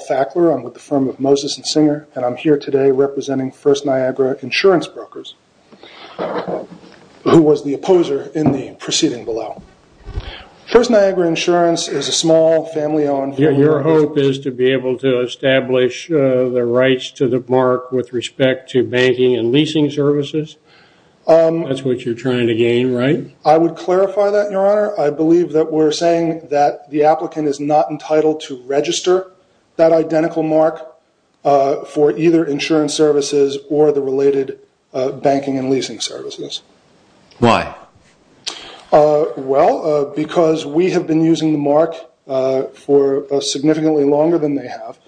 Fackler. I'm with the firm of Moses and Singer, and I'm here today representing First Niagara Insurance Brokers, who was the opposer in the proceeding below. First Niagara Insurance is a small, family-owned firm. Your hope is to be able to establish the rights to the mark with respect to banking and leasing services? That's what you're trying to gain, right? I would clarify that, Your Honor. I believe that we're saying that the applicant is not entitled to register that identical mark for either insurance services or the related banking and leasing services. Why? Well, because we have been using the mark for significantly longer than they have,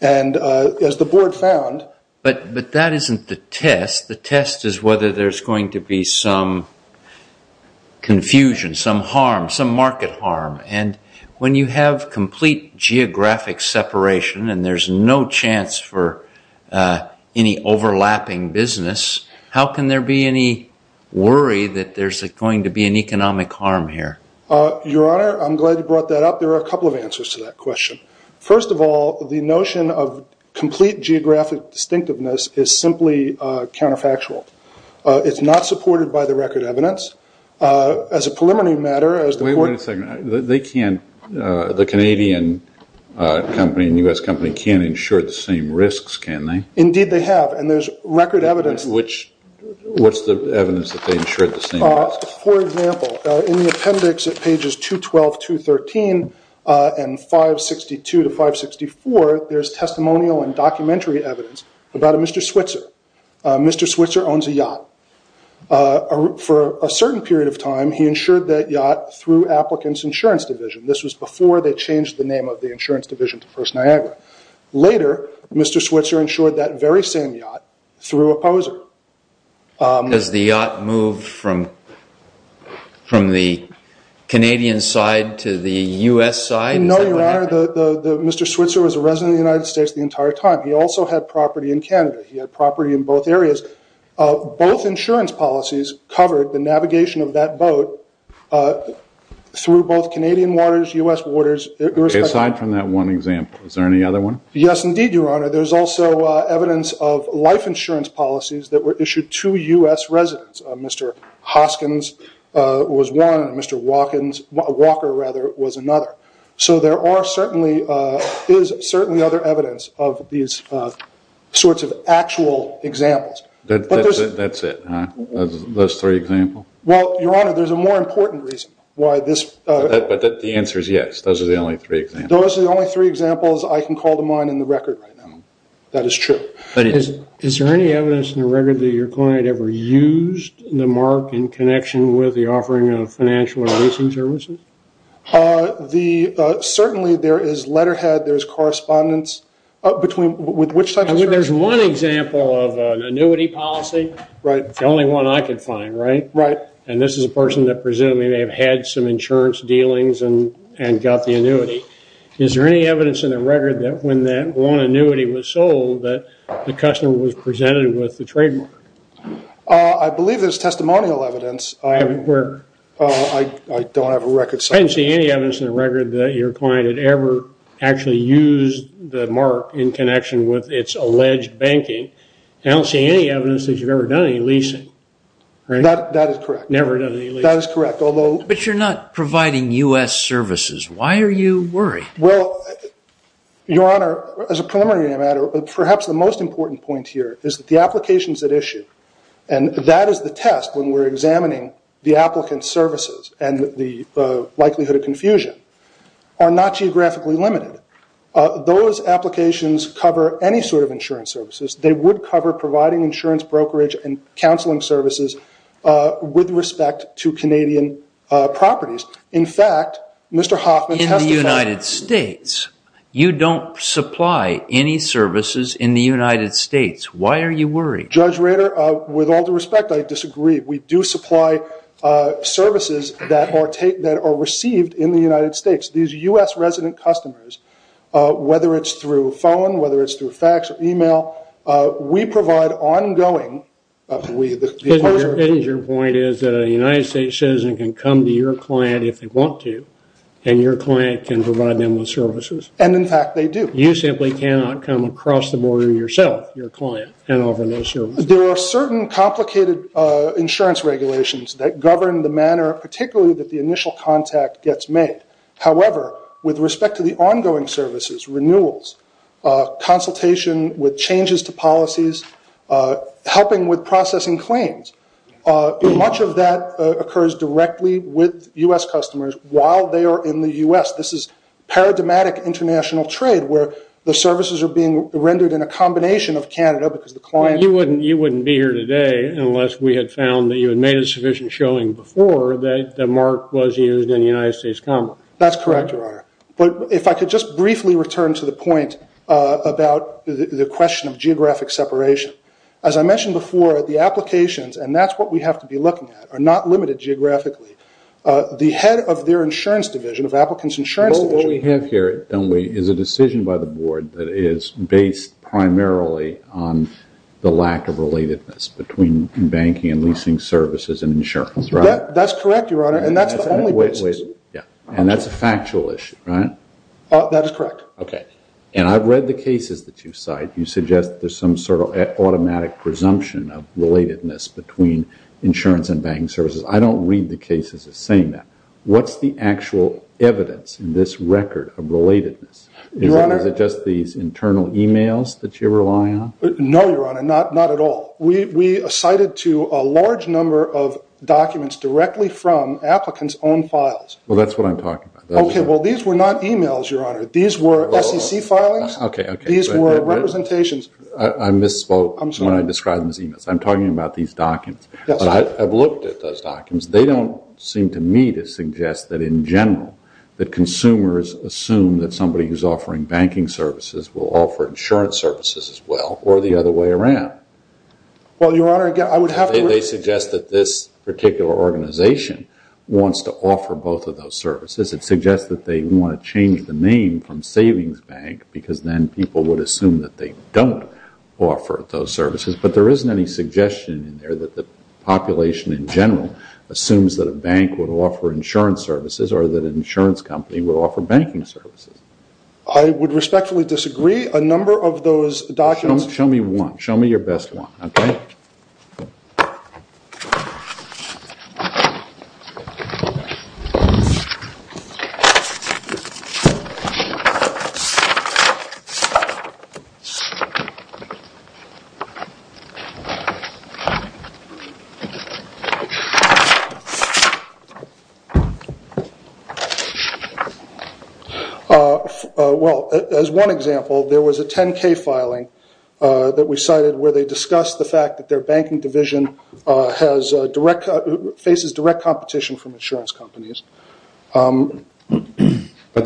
and as the Board found... But that isn't the test. The test is whether there's going to be some confusion, some harm, some market harm. And when you have complete geographic separation and there's no chance for any overlapping business, how can there be any worry that there's going to be an economic harm here? Your Honor, I'm glad you brought that up. There are a couple of answers to that question. First of all, the notion of complete geographic distinctiveness is simply counterfactual. It's not supported by the record evidence. As a preliminary matter, as the Board... Wait a second. They can't... The Canadian company and U.S. company can't insure the same risks, can they? Indeed, they have. And there's record evidence... What's the evidence that they insured the same risks? For example, in the appendix at pages 212, 213, and 562 to 564, there's testimonial and there's a yacht. For a certain period of time, he insured that yacht through Applicants' Insurance Division. This was before they changed the name of the insurance division to First Niagara. Later, Mr. Switzer insured that very same yacht through a poser. Does the yacht move from the Canadian side to the U.S. side? No, Your Honor. Mr. Switzer was a resident of the United States the entire time. He also had property in Canada. He had property in both areas. Both insurance policies covered the navigation of that boat through both Canadian waters, U.S. waters, irrespective... Aside from that one example, is there any other one? Yes, indeed, Your Honor. There's also evidence of life insurance policies that were issued to U.S. residents. Mr. Hoskins was one and Mr. Walker was another. There is certainly other evidence of these sorts of actual examples. That's it, huh? Those three examples? Well, Your Honor, there's a more important reason why this... The answer is yes. Those are the only three examples. Those are the only three examples I can call to mind in the record right now. That is true. Is there any evidence in the record that your client ever used the mark in connection with the offering of financial or leasing services? Certainly, there is letterhead. There's correspondence. Between... Which type of... There's one example of an annuity policy. It's the only one I can find, right? Right. This is a person that presumably may have had some insurance dealings and got the annuity. Is there any evidence in the record that when that one annuity was sold, that the customer was presented with the trademark? I believe there's testimonial evidence. Where? I don't have a record. I didn't see any evidence in the record that your client had ever actually used the mark in connection with its alleged banking. I don't see any evidence that you've ever done any leasing. That is correct. Never done any leasing. That is correct, although... But you're not providing U.S. services. Why are you worried? Well, Your Honor, as a preliminary matter, perhaps the most important point here is that the applications at issue, and that is the test when we're examining the applicant's services and the likelihood of confusion, are not geographically limited. Those applications cover any sort of insurance services. They would cover providing insurance, brokerage, and counseling services with respect to Canadian properties. In fact, Mr. Hoffman testified... Judge Rader, with all due respect, I disagree. We do supply services that are received in the United States. These U.S. resident customers, whether it's through phone, whether it's through fax or email, we provide ongoing... Your point is that a United States citizen can come to your client if they want to, and your client can provide them with services. And, in fact, they do. You simply cannot come across the border yourself, your client, and offer those services. There are certain complicated insurance regulations that govern the manner, particularly that the initial contact gets made. However, with respect to the ongoing services, renewals, consultation with changes to policies, helping with processing claims, much of that occurs directly with U.S. customers while they are in the U.S. This is paradigmatic international trade where the services are being rendered in a combination of Canada because the client... You wouldn't be here today unless we had found that you had made a sufficient showing before that the mark was used in the United States common. That's correct, Your Honor. But if I could just briefly return to the point about the question of geographic separation. As I mentioned before, the applications, and that's what we have to be looking at, are not limited geographically. The head of their insurance division, of applicants' insurance division... What we have here, don't we, is a decision by the board that is based primarily on the lack of relatedness between banking and leasing services and insurance, right? That's correct, Your Honor, and that's the only basis. And that's a factual issue, right? That is correct. Okay. And I've read the cases that you cite. You suggest there's some sort of automatic presumption of relatedness between insurance and banking services. I don't read the cases as saying that. What's the actual evidence in this record of relatedness? Your Honor... Is it just these internal e-mails that you rely on? No, Your Honor, not at all. We cited to a large number of documents directly from applicants' own files. Well, that's what I'm talking about. Okay, well, these were not e-mails, Your Honor. These were SEC filings. These were representations. I misspoke when I described them as e-mails. I'm talking about these documents. Yes. I've looked at those documents. They don't seem to me to suggest that, in general, that consumers assume that somebody who's offering banking services will offer insurance services as well or the other way around. Well, Your Honor, I would have to... They suggest that this particular organization wants to offer both of those services. It suggests that they want to change the name from Savings Bank because then people would assume that they don't offer those services. But there isn't any suggestion in there that the population in general assumes that a bank would offer insurance services or that an insurance company would offer banking services. I would respectfully disagree. A number of those documents... Show me one. Show me your best one, okay? Well, as one example, there was a 10-K filing that we cited where they discussed the fact that their banking division faces direct competition from insurance companies. But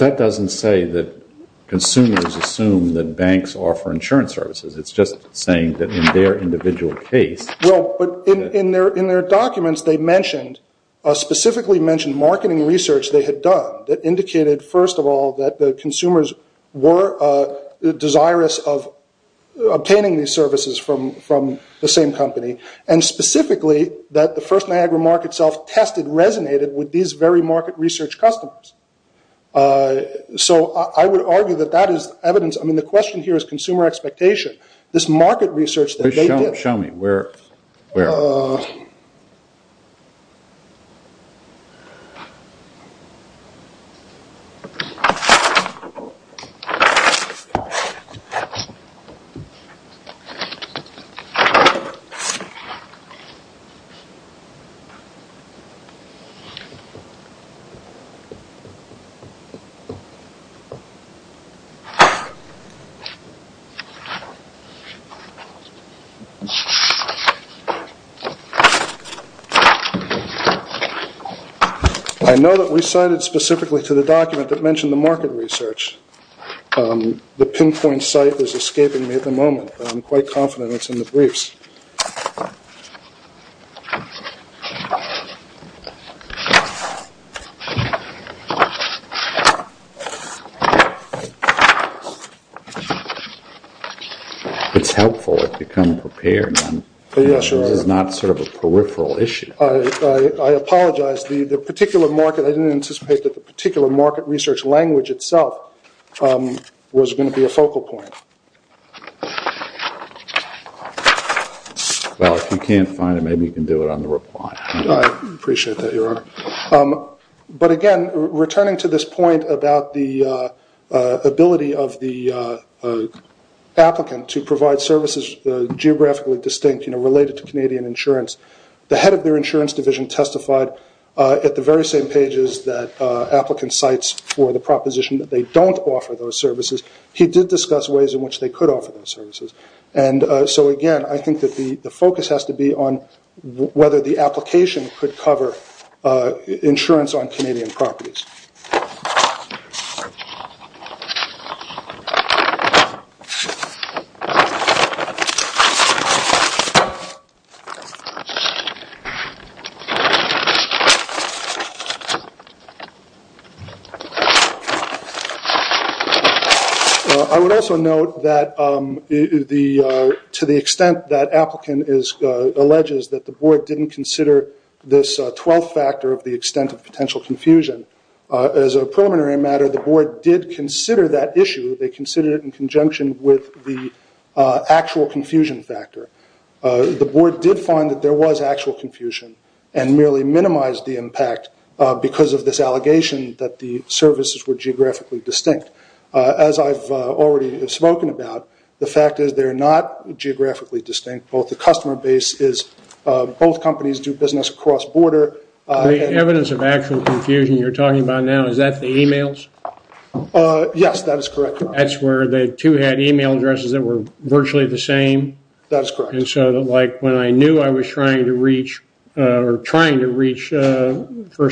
that doesn't say that consumers assume that banks offer insurance services. It's just saying that in their individual case... Well, but in their documents, they mentioned, specifically mentioned marketing research they had done that indicated, first of all, that the consumers were desirous of obtaining these services from the same company and specifically that the first Niagara Mark itself tested resonated with these very market research customers. So I would argue that that is evidence. I mean, the question here is consumer expectation. This market research that they did... Show me. Where? Uh... Okay. I know that we cited specifically to the document that mentioned the market research. The pinpoint site is escaping me at the moment, but I'm quite confident it's in the briefs. It's helpful. It's become prepared. Yeah, sure. This is not sort of a peripheral issue. I apologize. The particular market... I didn't anticipate that the particular market research language itself was going to be a focal point. Well, if you can't find it, maybe you can do it on the reply. I appreciate that, Your Honor. But again, returning to this point about the ability of the applicant to provide services geographically distinct, you know, related to Canadian insurance, the head of their insurance division testified at the very same pages that applicant cites for the proposition that they don't offer those services. He did discuss ways in which they could offer those services. And so again, I think that the focus has to be on whether the application could cover insurance on Canadian properties. I would also note that to the extent that applicant alleges that the board didn't consider this 12th factor of the extent of potential confusion, as a preliminary matter, the board did consider that issue. They considered it in conjunction with the actual confusion factor. The board did find that there was actual confusion and merely minimized the impact because of this allegation that the services were geographically distinct. As I've already spoken about, the fact is they're not geographically distinct. Both the customer base is... Both companies do business across border. The evidence of actual confusion you're talking about now, is that the e-mails? Yes, that is correct. That's where the two had e-mail addresses that were virtually the same? That is correct. And so like when I knew I was trying to reach First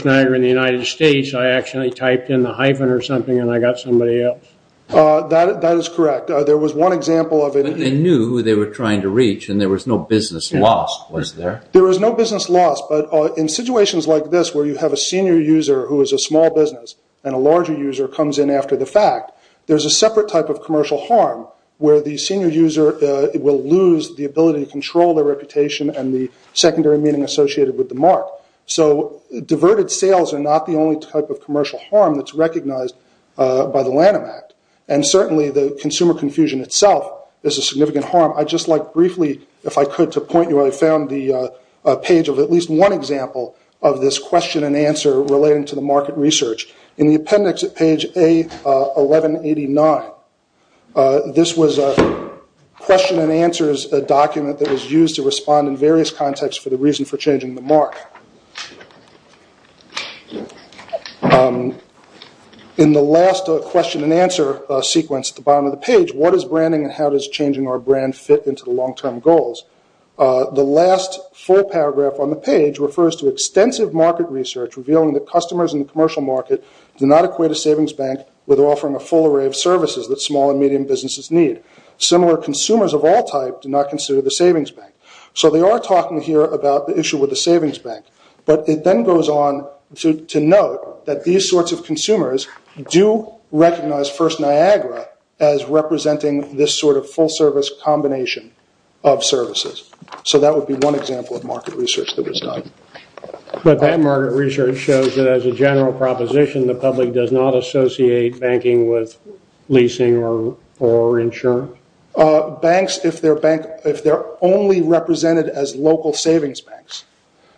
Niagara in the United States, I actually typed in the hyphen or something and I got somebody else? That is correct. There was one example of it... But they knew who they were trying to reach and there was no business lost, was there? There was no business lost. But in situations like this where you have a senior user who is a small business and a larger user comes in after the fact, there's a separate type of commercial harm where the senior user will lose the ability to control their reputation and the secondary meaning associated with the mark. So diverted sales are not the only type of commercial harm that's recognized by the Lanham Act. And certainly the consumer confusion itself is a significant harm. I'd just like briefly, if I could, to point you where I found the page of at least one example of this question and answer relating to the market research. In the appendix at page A1189, this was a question and answer document that was used to respond in various contexts for the reason for changing the mark. In the last question and answer sequence at the bottom of the page, what is branding and how does changing our brand fit into the long-term goals? The last full paragraph on the page refers to extensive market research revealing that customers in the commercial market do not equate a savings bank with offering a full array of services that small and medium businesses need. Similar consumers of all type do not consider the savings bank. So they are talking here about the issue with the savings bank. But it then goes on to note that these sorts of consumers do recognize First Niagara as representing this sort of full service combination of services. So that would be one example of market research that was done. But that market research shows that as a general proposition, the public does not associate banking with leasing or insurance? Banks, if they're only represented as local savings banks.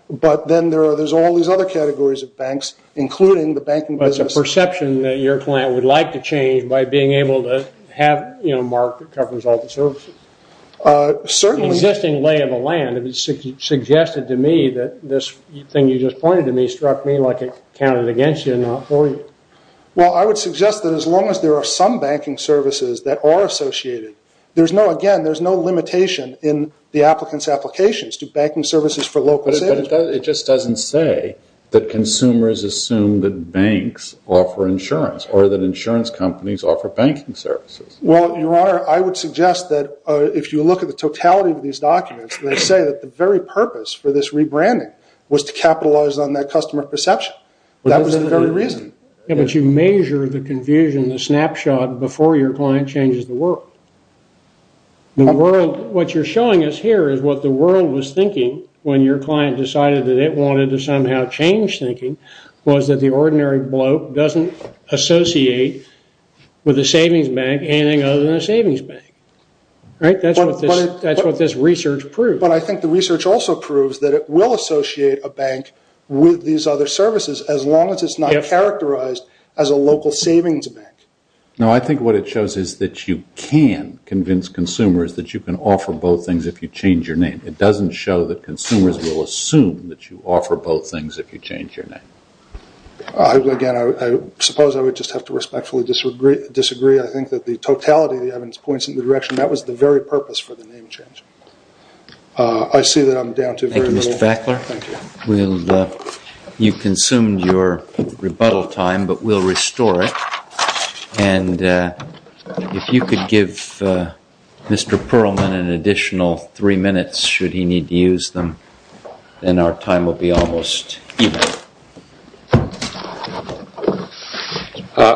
But then there's all these other categories of banks, including the banking business. But it's a perception that your client would like to change by being able to have a mark that covers all the services. Certainly. The existing lay of the land, if it's suggested to me that this thing you just pointed to me struck me like it counted against you and not for you. Well, I would suggest that as long as there are some banking services that are associated, again, there's no limitation in the applicant's applications to banking services for local savings. But it just doesn't say that consumers assume that banks offer insurance or that insurance companies offer banking services. Well, Your Honor, I would suggest that if you look at the totality of these documents, they say that the very purpose for this rebranding was to capitalize on that customer perception. That was the very reason. But you measure the confusion, the snapshot, before your client changes the world. What you're showing us here is what the world was thinking when your client decided that it wanted to somehow change thinking was that the ordinary bloke doesn't associate with a savings bank anything other than a savings bank. Right? That's what this research proves. But I think the research also proves that it will associate a bank with these other services as long as it's not characterized as a local savings bank. No, I think what it shows is that you can convince consumers that you can offer both things if you change your name. It doesn't show that consumers will assume that you offer both things if you change your name. Again, I suppose I would just have to respectfully disagree. I think that the totality of the evidence points in the direction that was the very purpose for the name change. I see that I'm down to very little. Thank you, Mr. Fackler. Thank you. You consumed your rebuttal time, but we'll restore it. And if you could give Mr. Perlman an additional three minutes, should he need to use them, then our time will be almost even.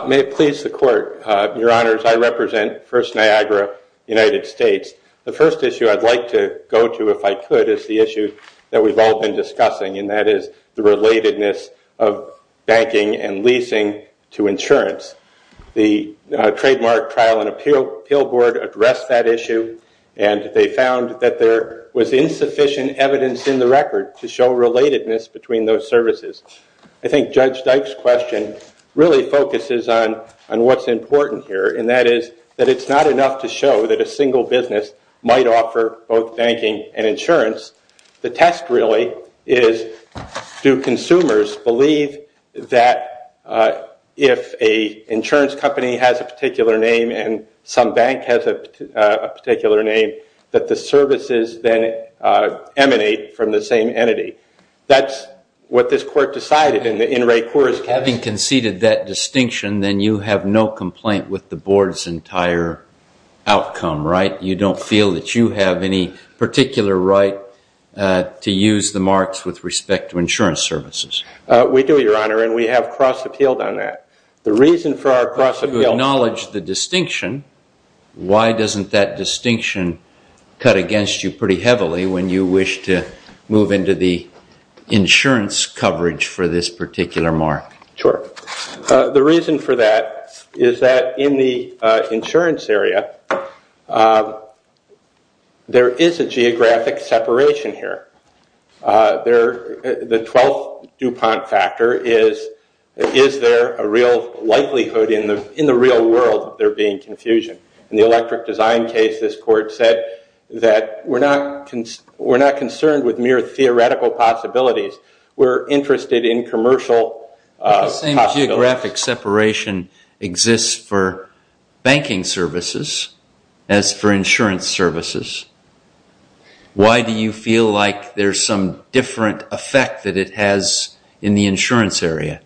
May it please the Court. Your Honors, I represent First Niagara, United States. The first issue I'd like to go to, if I could, is the issue that we've all been discussing, and that is the relatedness of banking and leasing to insurance. The Trademark Trial and Appeal Board addressed that issue, and they found that there was insufficient evidence in the record to show relatedness between those services. I think Judge Dyke's question really focuses on what's important here, and that is that it's not enough to show that a single business might offer both banking and insurance. The test, really, is do consumers believe that if an insurance company has a particular name and some bank has a particular name, that the services then emanate from the same entity? That's what this Court decided in Ray Kour's case. Having conceded that distinction, then you have no complaint with the Board's entire outcome, right? You don't feel that you have any particular right to use the marks with respect to insurance services? We do, Your Honor, and we have cross-appealed on that. The reason for our cross-appeal is to acknowledge the distinction. Why doesn't that distinction cut against you pretty heavily when you wish to move into the insurance coverage for this particular mark? The reason for that is that in the insurance area, there is a geographic separation here. The 12th DuPont factor is, is there a real likelihood in the real world that there being confusion? In the electric design case, this Court said that we're not concerned with mere theoretical possibilities. We're interested in commercial possibilities. But the same geographic separation exists for banking services as for insurance services. Why do you feel like there's some different effect that it has in the insurance area?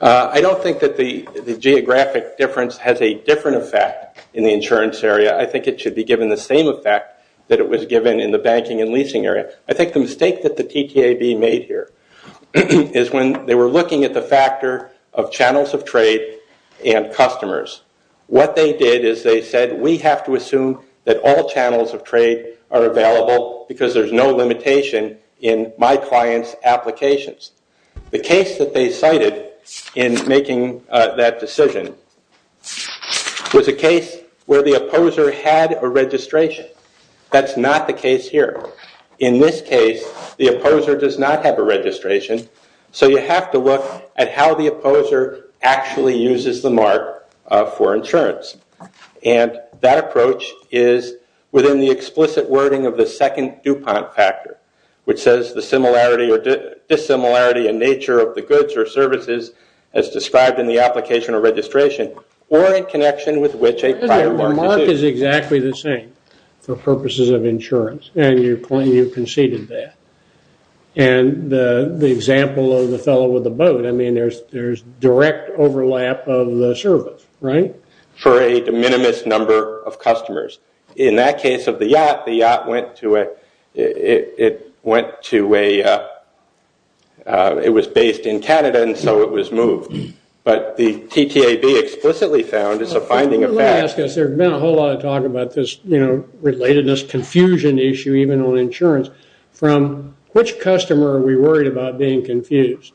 I don't think that the geographic difference has a different effect in the insurance area. I think it should be given the same effect that it was given in the banking and leasing area. I think the mistake that the TTAB made here is when they were looking at the factor of channels of trade and customers. What they did is they said, we have to assume that all channels of trade are available because there's no limitation in my client's applications. The case that they cited in making that decision was a case where the opposer had a registration. That's not the case here. In this case, the opposer does not have a registration. You have to look at how the opposer actually uses the mark for insurance. That approach is within the explicit wording of the second DuPont factor, which says the similarity or dissimilarity in nature of the goods or services as described in the application or registration or in connection with which a prior mark is used. The mark is exactly the same for purposes of insurance, and you conceded that. The example of the fellow with the boat, there's direct overlap of the service, right? For a de minimis number of customers. In that case of the yacht, it was based in Canada and so it was moved. But the TTAB explicitly found it's a finding of fact. There's been a whole lot of talk about this relatedness, confusion issue even on insurance. From which customer are we worried about being confused?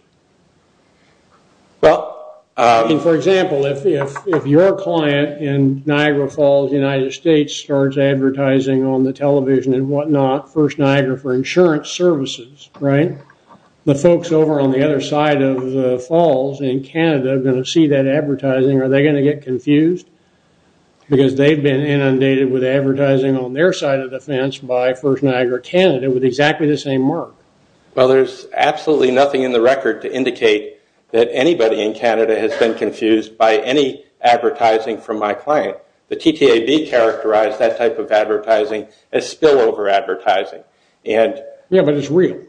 For example, if your client in Niagara Falls, United States, starts advertising on the television and whatnot, First Niagara for insurance services, right? The folks over on the other side of the falls in Canada are going to see that advertising. Are they going to get confused? Because they've been inundated with advertising on their side of the fence by First Niagara Canada with exactly the same mark. Well, there's absolutely nothing in the record to indicate that anybody in Canada has been confused by any advertising from my client. The TTAB characterized that type of advertising as spillover advertising. Yeah, but it's real.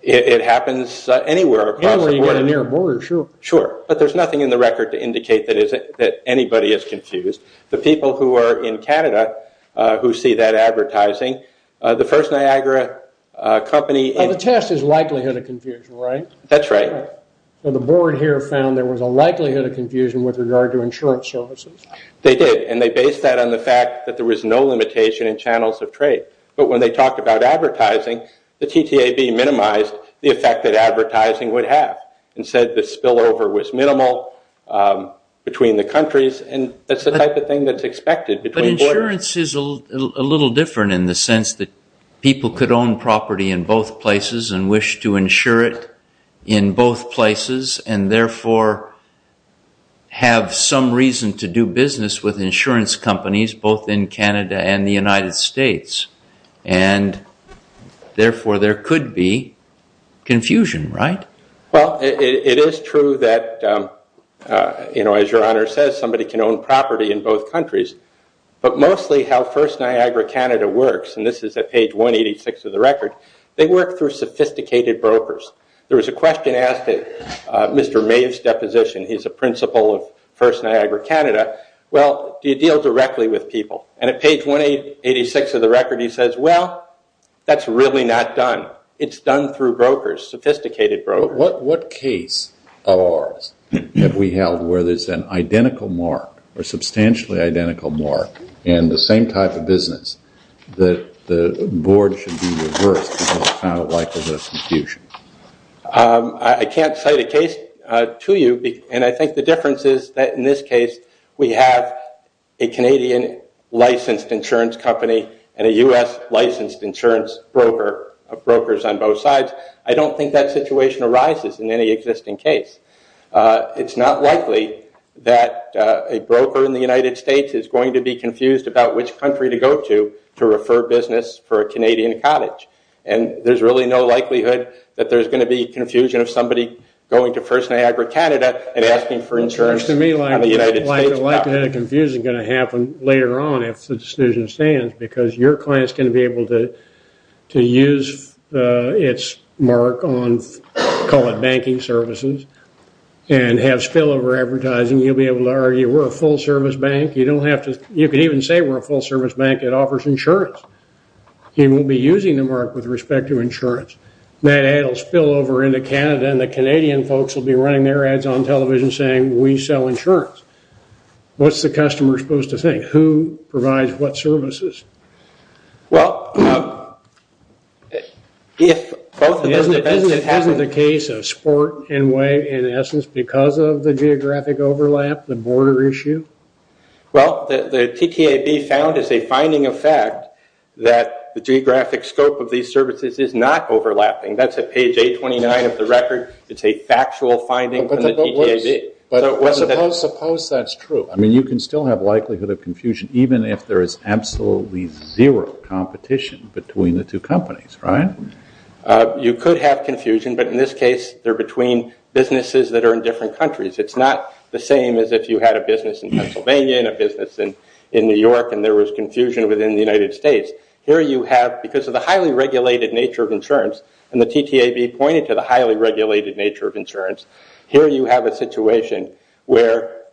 It happens anywhere across the board. Anywhere you get a near border, sure. But there's nothing in the record to indicate that anybody is confused. The people who are in Canada who see that advertising, the First Niagara company... The test is likelihood of confusion, right? That's right. The board here found there was a likelihood of confusion with regard to insurance services. They did and they based that on the fact that there was no limitation in channels of trade. But when they talked about advertising, the TTAB minimized the effect that advertising would have and said the spillover was minimal between the countries. And that's the type of thing that's expected between borders. But insurance is a little different in the sense that people could own property in both places and wish to insure it in both places and, therefore, have some reason to do business with insurance companies, both in Canada and the United States. And, therefore, there could be confusion, right? Well, it is true that, as your Honor says, somebody can own property in both countries. But mostly how First Niagara Canada works, and this is at page 186 of the record, they work through sophisticated brokers. There was a question asked at Mr. Maeve's deposition. He's a principal of First Niagara Canada. Well, do you deal directly with people? And at page 186 of the record he says, well, that's really not done. It's done through brokers, sophisticated brokers. What case of ours have we held where there's an identical mark or a substantially identical mark in the same type of business that the board should be reversed because it's found likely to have confusion? I can't cite a case to you. And I think the difference is that, in this case, we have a Canadian licensed insurance company and a U.S. licensed insurance broker, brokers on both sides. I don't think that situation arises in any existing case. It's not likely that a broker in the United States is going to be confused about which country to go to to refer business for a Canadian cottage. And there's really no likelihood that there's going to be confusion of somebody going to First Niagara Canada and asking for insurance from the United States. The likelihood of confusion is going to happen later on if the decision stands because your client is going to be able to use its mark on, call it banking services, and have spillover advertising. You'll be able to argue we're a full-service bank. You could even say we're a full-service bank that offers insurance. You won't be using the mark with respect to insurance. That ad will spill over into Canada, and then the Canadian folks will be running their ads on television saying, we sell insurance. What's the customer supposed to think? Who provides what services? Isn't the case a sport in a way, in essence, because of the geographic overlap, the border issue? Well, the TTAB found as a finding of fact that the geographic scope of these services is not overlapping. That's at page 829 of the record. It's a factual finding from the TTAB. Suppose that's true. I mean, you can still have likelihood of confusion even if there is absolutely zero competition between the two companies, right? You could have confusion, but in this case, they're between businesses that are in different countries. It's not the same as if you had a business in Pennsylvania and a business in New York and there was confusion within the United States. Because of the highly regulated nature of insurance, and the TTAB pointed to the highly regulated nature of insurance, here you have a situation where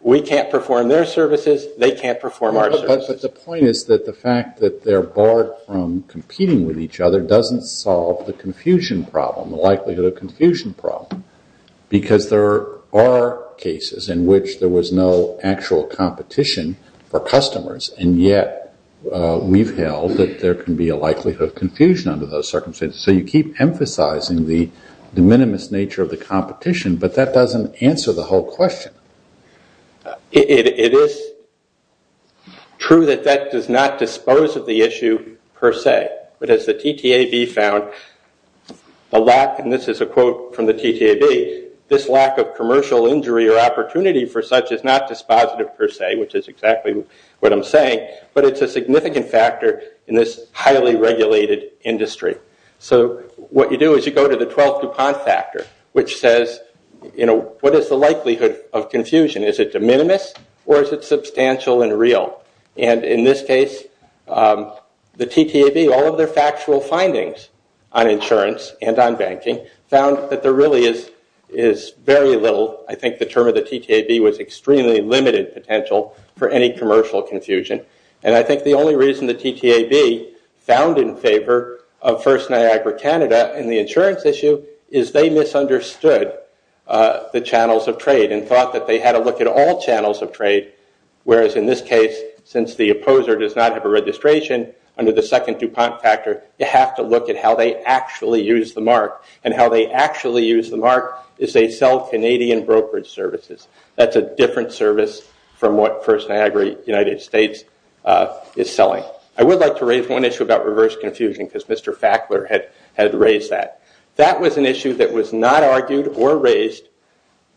we can't perform their services, they can't perform our services. But the point is that the fact that they're barred from competing with each other doesn't solve the confusion problem, the likelihood of confusion problem, because there are cases in which there was no actual competition for customers, and yet we've held that there can be a likelihood of confusion under those circumstances. So you keep emphasizing the de minimis nature of the competition, but that doesn't answer the whole question. It is true that that does not dispose of the issue per se, but as the TTAB found, and this is a quote from the TTAB, this lack of commercial injury or opportunity for such is not dispositive per se, which is exactly what I'm saying, but it's a significant factor in this highly regulated industry. So what you do is you go to the 12 DuPont factor, which says what is the likelihood of confusion? Is it de minimis or is it substantial and real? And in this case, the TTAB, all of their factual findings on insurance and on banking, found that there really is very little, I think the term of the TTAB was extremely limited potential for any commercial confusion, and I think the only reason the TTAB found in favor of First Niagara Canada in the insurance issue is they misunderstood the channels of trade and thought that they had to look at all channels of trade, whereas in this case, since the opposer does not have a registration under the second DuPont factor, you have to look at how they actually use the mark, and how they actually use the mark is they sell Canadian brokerage services. That's a different service from what First Niagara United States is selling. I would like to raise one issue about reverse confusion because Mr. Fackler had raised that. That was an issue that was not argued or raised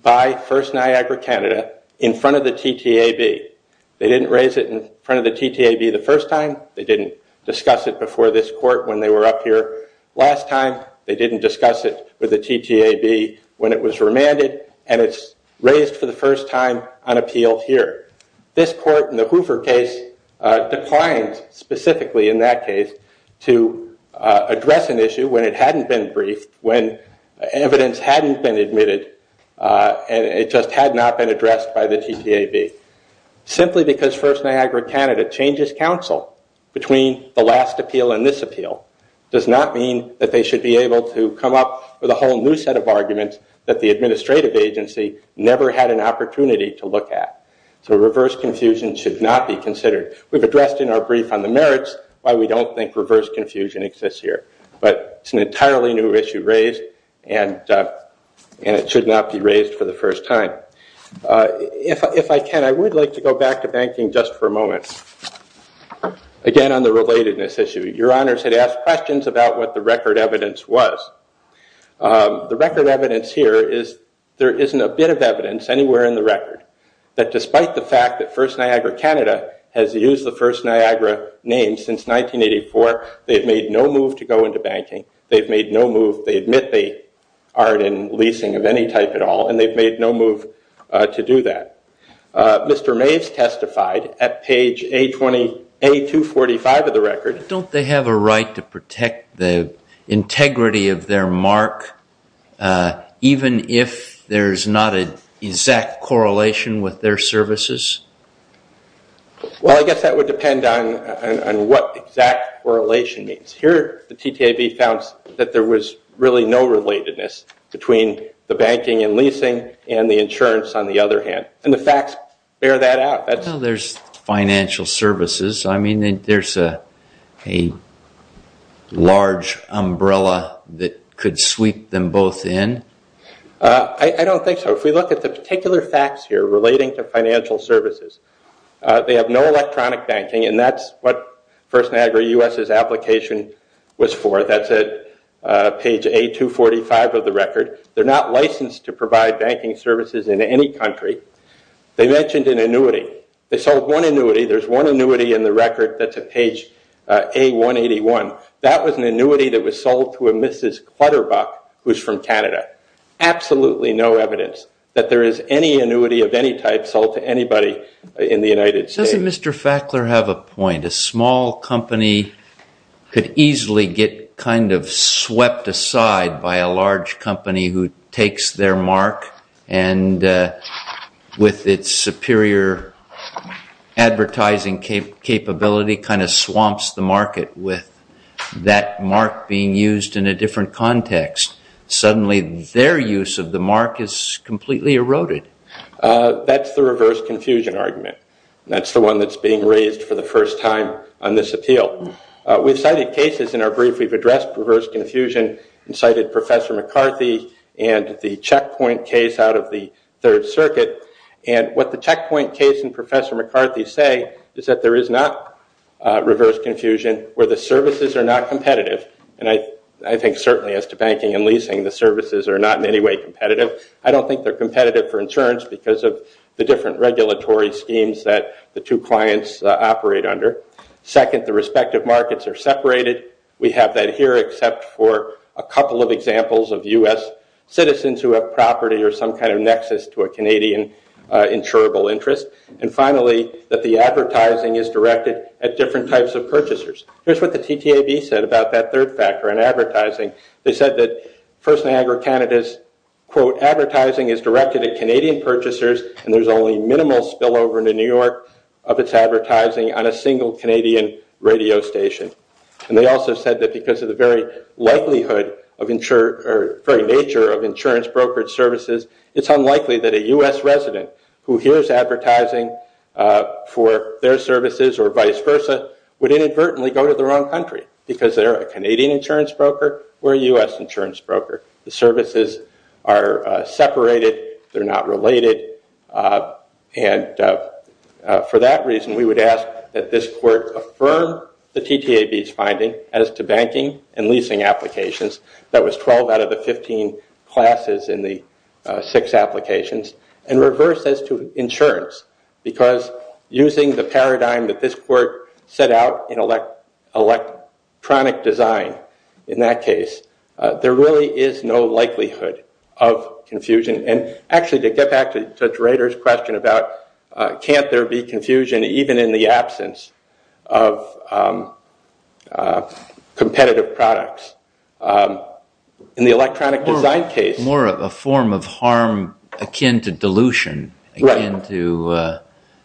by First Niagara Canada in front of the TTAB. They didn't raise it in front of the TTAB the first time. They didn't discuss it before this court when they were up here last time. They didn't discuss it with the TTAB when it was remanded, and it's raised for the first time on appeal here. This court in the Hoover case declined specifically in that case to address an issue when it hadn't been briefed, when evidence hadn't been admitted, and it just had not been addressed by the TTAB. Simply because First Niagara Canada changes counsel between the last appeal and this appeal does not mean that they should be able to come up with a whole new set of arguments that the administrative agency never had an opportunity to look at. So reverse confusion should not be considered. We've addressed in our brief on the merits why we don't think reverse confusion exists here, but it's an entirely new issue raised, and it should not be raised for the first time. If I can, I would like to go back to banking just for a moment. Again, on the relatedness issue. Your Honors had asked questions about what the record evidence was. The record evidence here is there isn't a bit of evidence anywhere in the record that despite the fact that First Niagara Canada has used the First Niagara name since 1984, they've made no move to go into banking. They've made no move. They admit they aren't in leasing of any type at all, and they've made no move to do that. Mr. Maves testified at page A245 of the record. Don't they have a right to protect the integrity of their mark even if there's not an exact correlation with their services? Well, I guess that would depend on what exact correlation means. Here the TTAB found that there was really no relatedness between the banking and leasing and the insurance on the other hand, and the facts bear that out. There's financial services. I mean, there's a large umbrella that could sweep them both in. I don't think so. If we look at the particular facts here relating to financial services, they have no electronic banking, and that's what First Niagara U.S.'s application was for. That's at page A245 of the record. They're not licensed to provide banking services in any country. They mentioned an annuity. They sold one annuity. There's one annuity in the record that's at page A181. That was an annuity that was sold to a Mrs. Clutterbuck who's from Canada. Absolutely no evidence that there is any annuity of any type sold to anybody in the United States. Doesn't Mr. Fackler have a point? A small company could easily get kind of swept aside by a large company who takes their mark and with its superior advertising capability kind of swamps the market with that mark being used in a different context. Suddenly their use of the mark is completely eroded. That's the reverse confusion argument. That's the one that's being raised for the first time on this appeal. We've cited cases in our brief. We've addressed reverse confusion and cited Professor McCarthy and the Checkpoint case out of the Third Circuit. What the Checkpoint case and Professor McCarthy say is that there is not reverse confusion where the services are not competitive. I think certainly as to banking and leasing, the services are not in any way competitive. I don't think they're competitive for insurance because of the different regulatory schemes that the two clients operate under. Second, the respective markets are separated. We have that here except for a couple of examples of U.S. citizens who have property or some kind of nexus to a Canadian insurable interest. And finally, that the advertising is directed at different types of purchasers. Here's what the TTAB said about that third factor in advertising. They said that First Niagara Canada's, quote, advertising is directed at Canadian purchasers and there's only minimal spillover in New York of its advertising on a single Canadian radio station. And they also said that because of the very nature of insurance brokerage services, it's unlikely that a U.S. resident who hears advertising for their services or vice versa would inadvertently go to the wrong country because they're a Canadian insurance broker or a U.S. insurance broker. The services are separated. They're not related. And for that reason, we would ask that this court affirm the TTAB's finding as to banking and leasing applications. That was 12 out of the 15 classes in the six applications. And reverse this to insurance because using the paradigm that this court set out in electronic design, in that case, there really is no likelihood of confusion. And actually, to get back to Judge Rader's question about can't there be confusion even in the absence of competitive products, in the electronic design case. It's more of a form of harm akin to dilution, akin to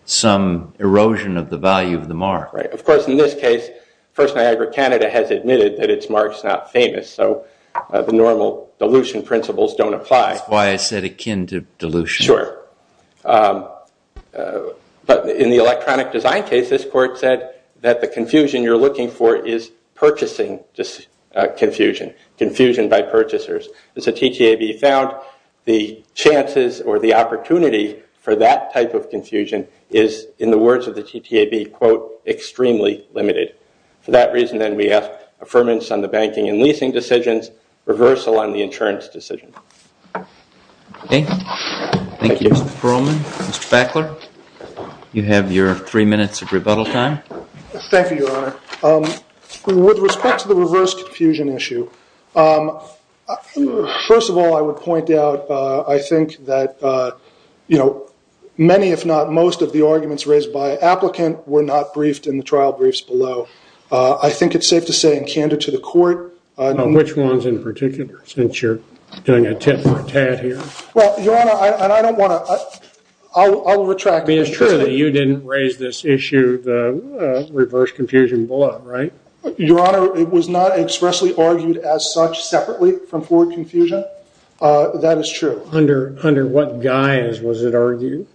some erosion of the value of the mark. Of course, in this case, First Niagara Canada has admitted that its mark's not famous, so the normal dilution principles don't apply. That's why I said akin to dilution. Sure. But in the electronic design case, this court said that the confusion you're looking for is purchasing confusion, confusion by purchasers. And so TTAB found the chances or the opportunity for that type of confusion is, in the words of the TTAB, quote, extremely limited. For that reason, then, we ask affirmance on the banking and leasing decisions, reversal on the insurance decision. Okay. Thank you, Mr. Perlman. Mr. Backler, you have your three minutes of rebuttal time. Thank you, Your Honor. With respect to the reverse confusion issue, first of all, I would point out, I think that many, if not most, of the arguments raised by an applicant were not briefed in the trial briefs below. I think it's safe to say in Canada to the court. Which ones in particular, since you're doing a tit-for-tat here? Well, Your Honor, and I don't want to – I'll retract. I mean, it's true that you didn't raise this issue, the reverse confusion below, right? Your Honor, it was not expressly argued as such separately from forward confusion. That is true. Under what guise was it argued?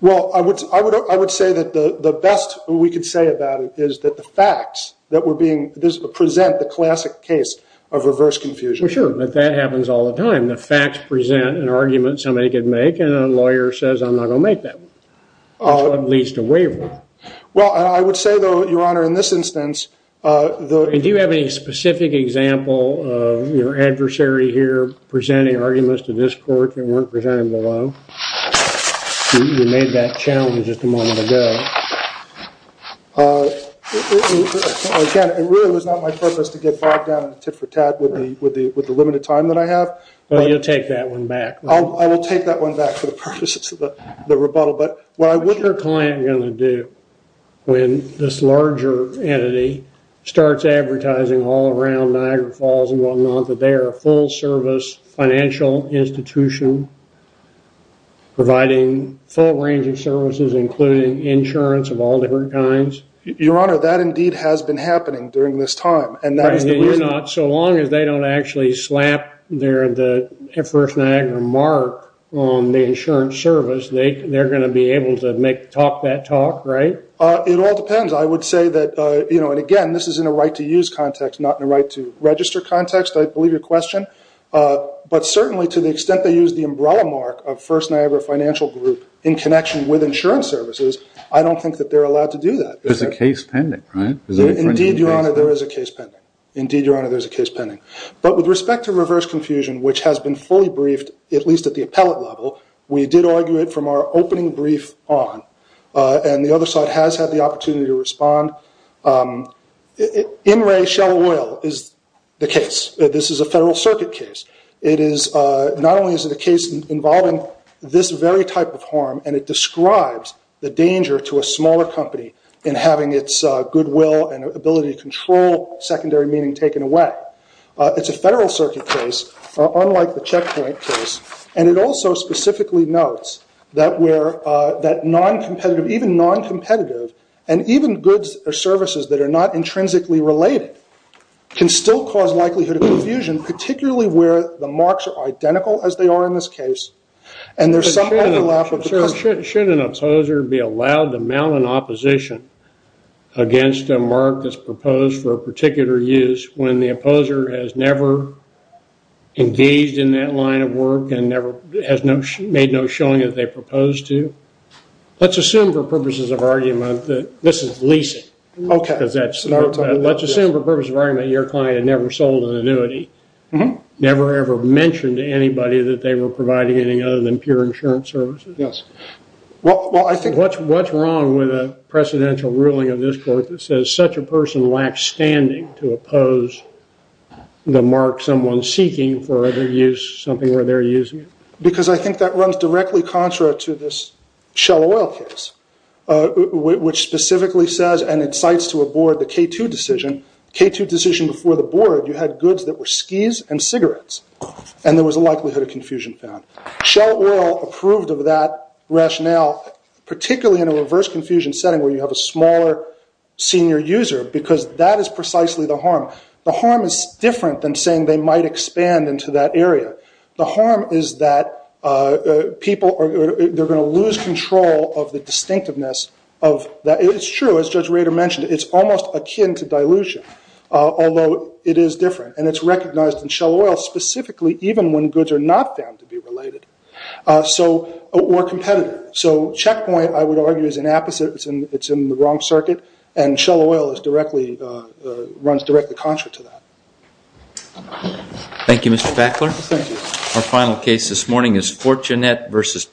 Well, I would say that the best we could say about it is that the facts that were being – present the classic case of reverse confusion. Sure, but that happens all the time. The facts present an argument somebody could make, and a lawyer says, I'm not going to make that one. At least a waiver. Well, I would say, though, Your Honor, in this instance – Do you have any specific example of your adversary here presenting arguments to this court that weren't presented below? You made that challenge just a moment ago. Again, it really was not my purpose to get bogged down in the tit-for-tat with the limited time that I have. Well, you'll take that one back. I will take that one back for the purposes of the rebuttal. What is your client going to do when this larger entity starts advertising all around Niagara Falls and whatnot that they are a full-service financial institution providing full range of services, including insurance of all different kinds? Your Honor, that indeed has been happening during this time, and that is the reason – So long as they don't actually slap their First Niagara mark on the insurance service, they're going to be able to talk that talk, right? It all depends. Again, this is in a right-to-use context, not in a right-to-register context, I believe your question. But certainly, to the extent they use the umbrella mark of First Niagara Financial Group in connection with insurance services, I don't think that they're allowed to do that. There's a case pending, right? Indeed, Your Honor, there is a case pending. Indeed, Your Honor, there is a case pending. But with respect to reverse confusion, which has been fully briefed, at least at the appellate level, we did argue it from our opening brief on. And the other side has had the opportunity to respond. In re shell oil is the case. This is a federal circuit case. Not only is it a case involving this very type of harm, and it describes the danger to a smaller company in having its goodwill and ability to control secondary meaning taken away. It's a federal circuit case, unlike the checkpoint case. And it also specifically notes that non-competitive, even non-competitive, and even goods or services that are not intrinsically related can still cause likelihood of confusion, particularly where the marks are identical, as they are in this case, and there's some overlap. Shouldn't an opposer be allowed to mount an opposition against a mark that's proposed for a particular use when the opposer has never engaged in that line of work and has made no showing that they proposed to? Let's assume for purposes of argument that this is leasing. Okay. Let's assume for purposes of argument that your client had never sold an annuity, never ever mentioned to anybody that they were providing anything other than pure insurance services. Yes. Well, I think what's wrong with a presidential ruling of this court that says such a person lacks standing to oppose the mark someone's seeking for their use, something where they're using it? Because I think that runs directly contrary to this Shell Oil case, which specifically says and incites to a board the K2 decision. K2 decision before the board, you had goods that were skis and cigarettes, and there was a likelihood of confusion found. Shell Oil approved of that rationale, particularly in a reverse confusion setting where you have a smaller senior user, because that is precisely the harm. The harm is different than saying they might expand into that area. The harm is that people are going to lose control of the distinctiveness of that. It's true. As Judge Rader mentioned, it's almost akin to dilution, although it is different, and it's recognized in Shell Oil specifically even when goods are not found to be related or competitive. So checkpoint, I would argue, is an apposite. It's in the wrong circuit, and Shell Oil runs directly contrary to that. Thank you, Mr. Backler. Thank you. Our final case this morning is Fortunet v. Planet Energy.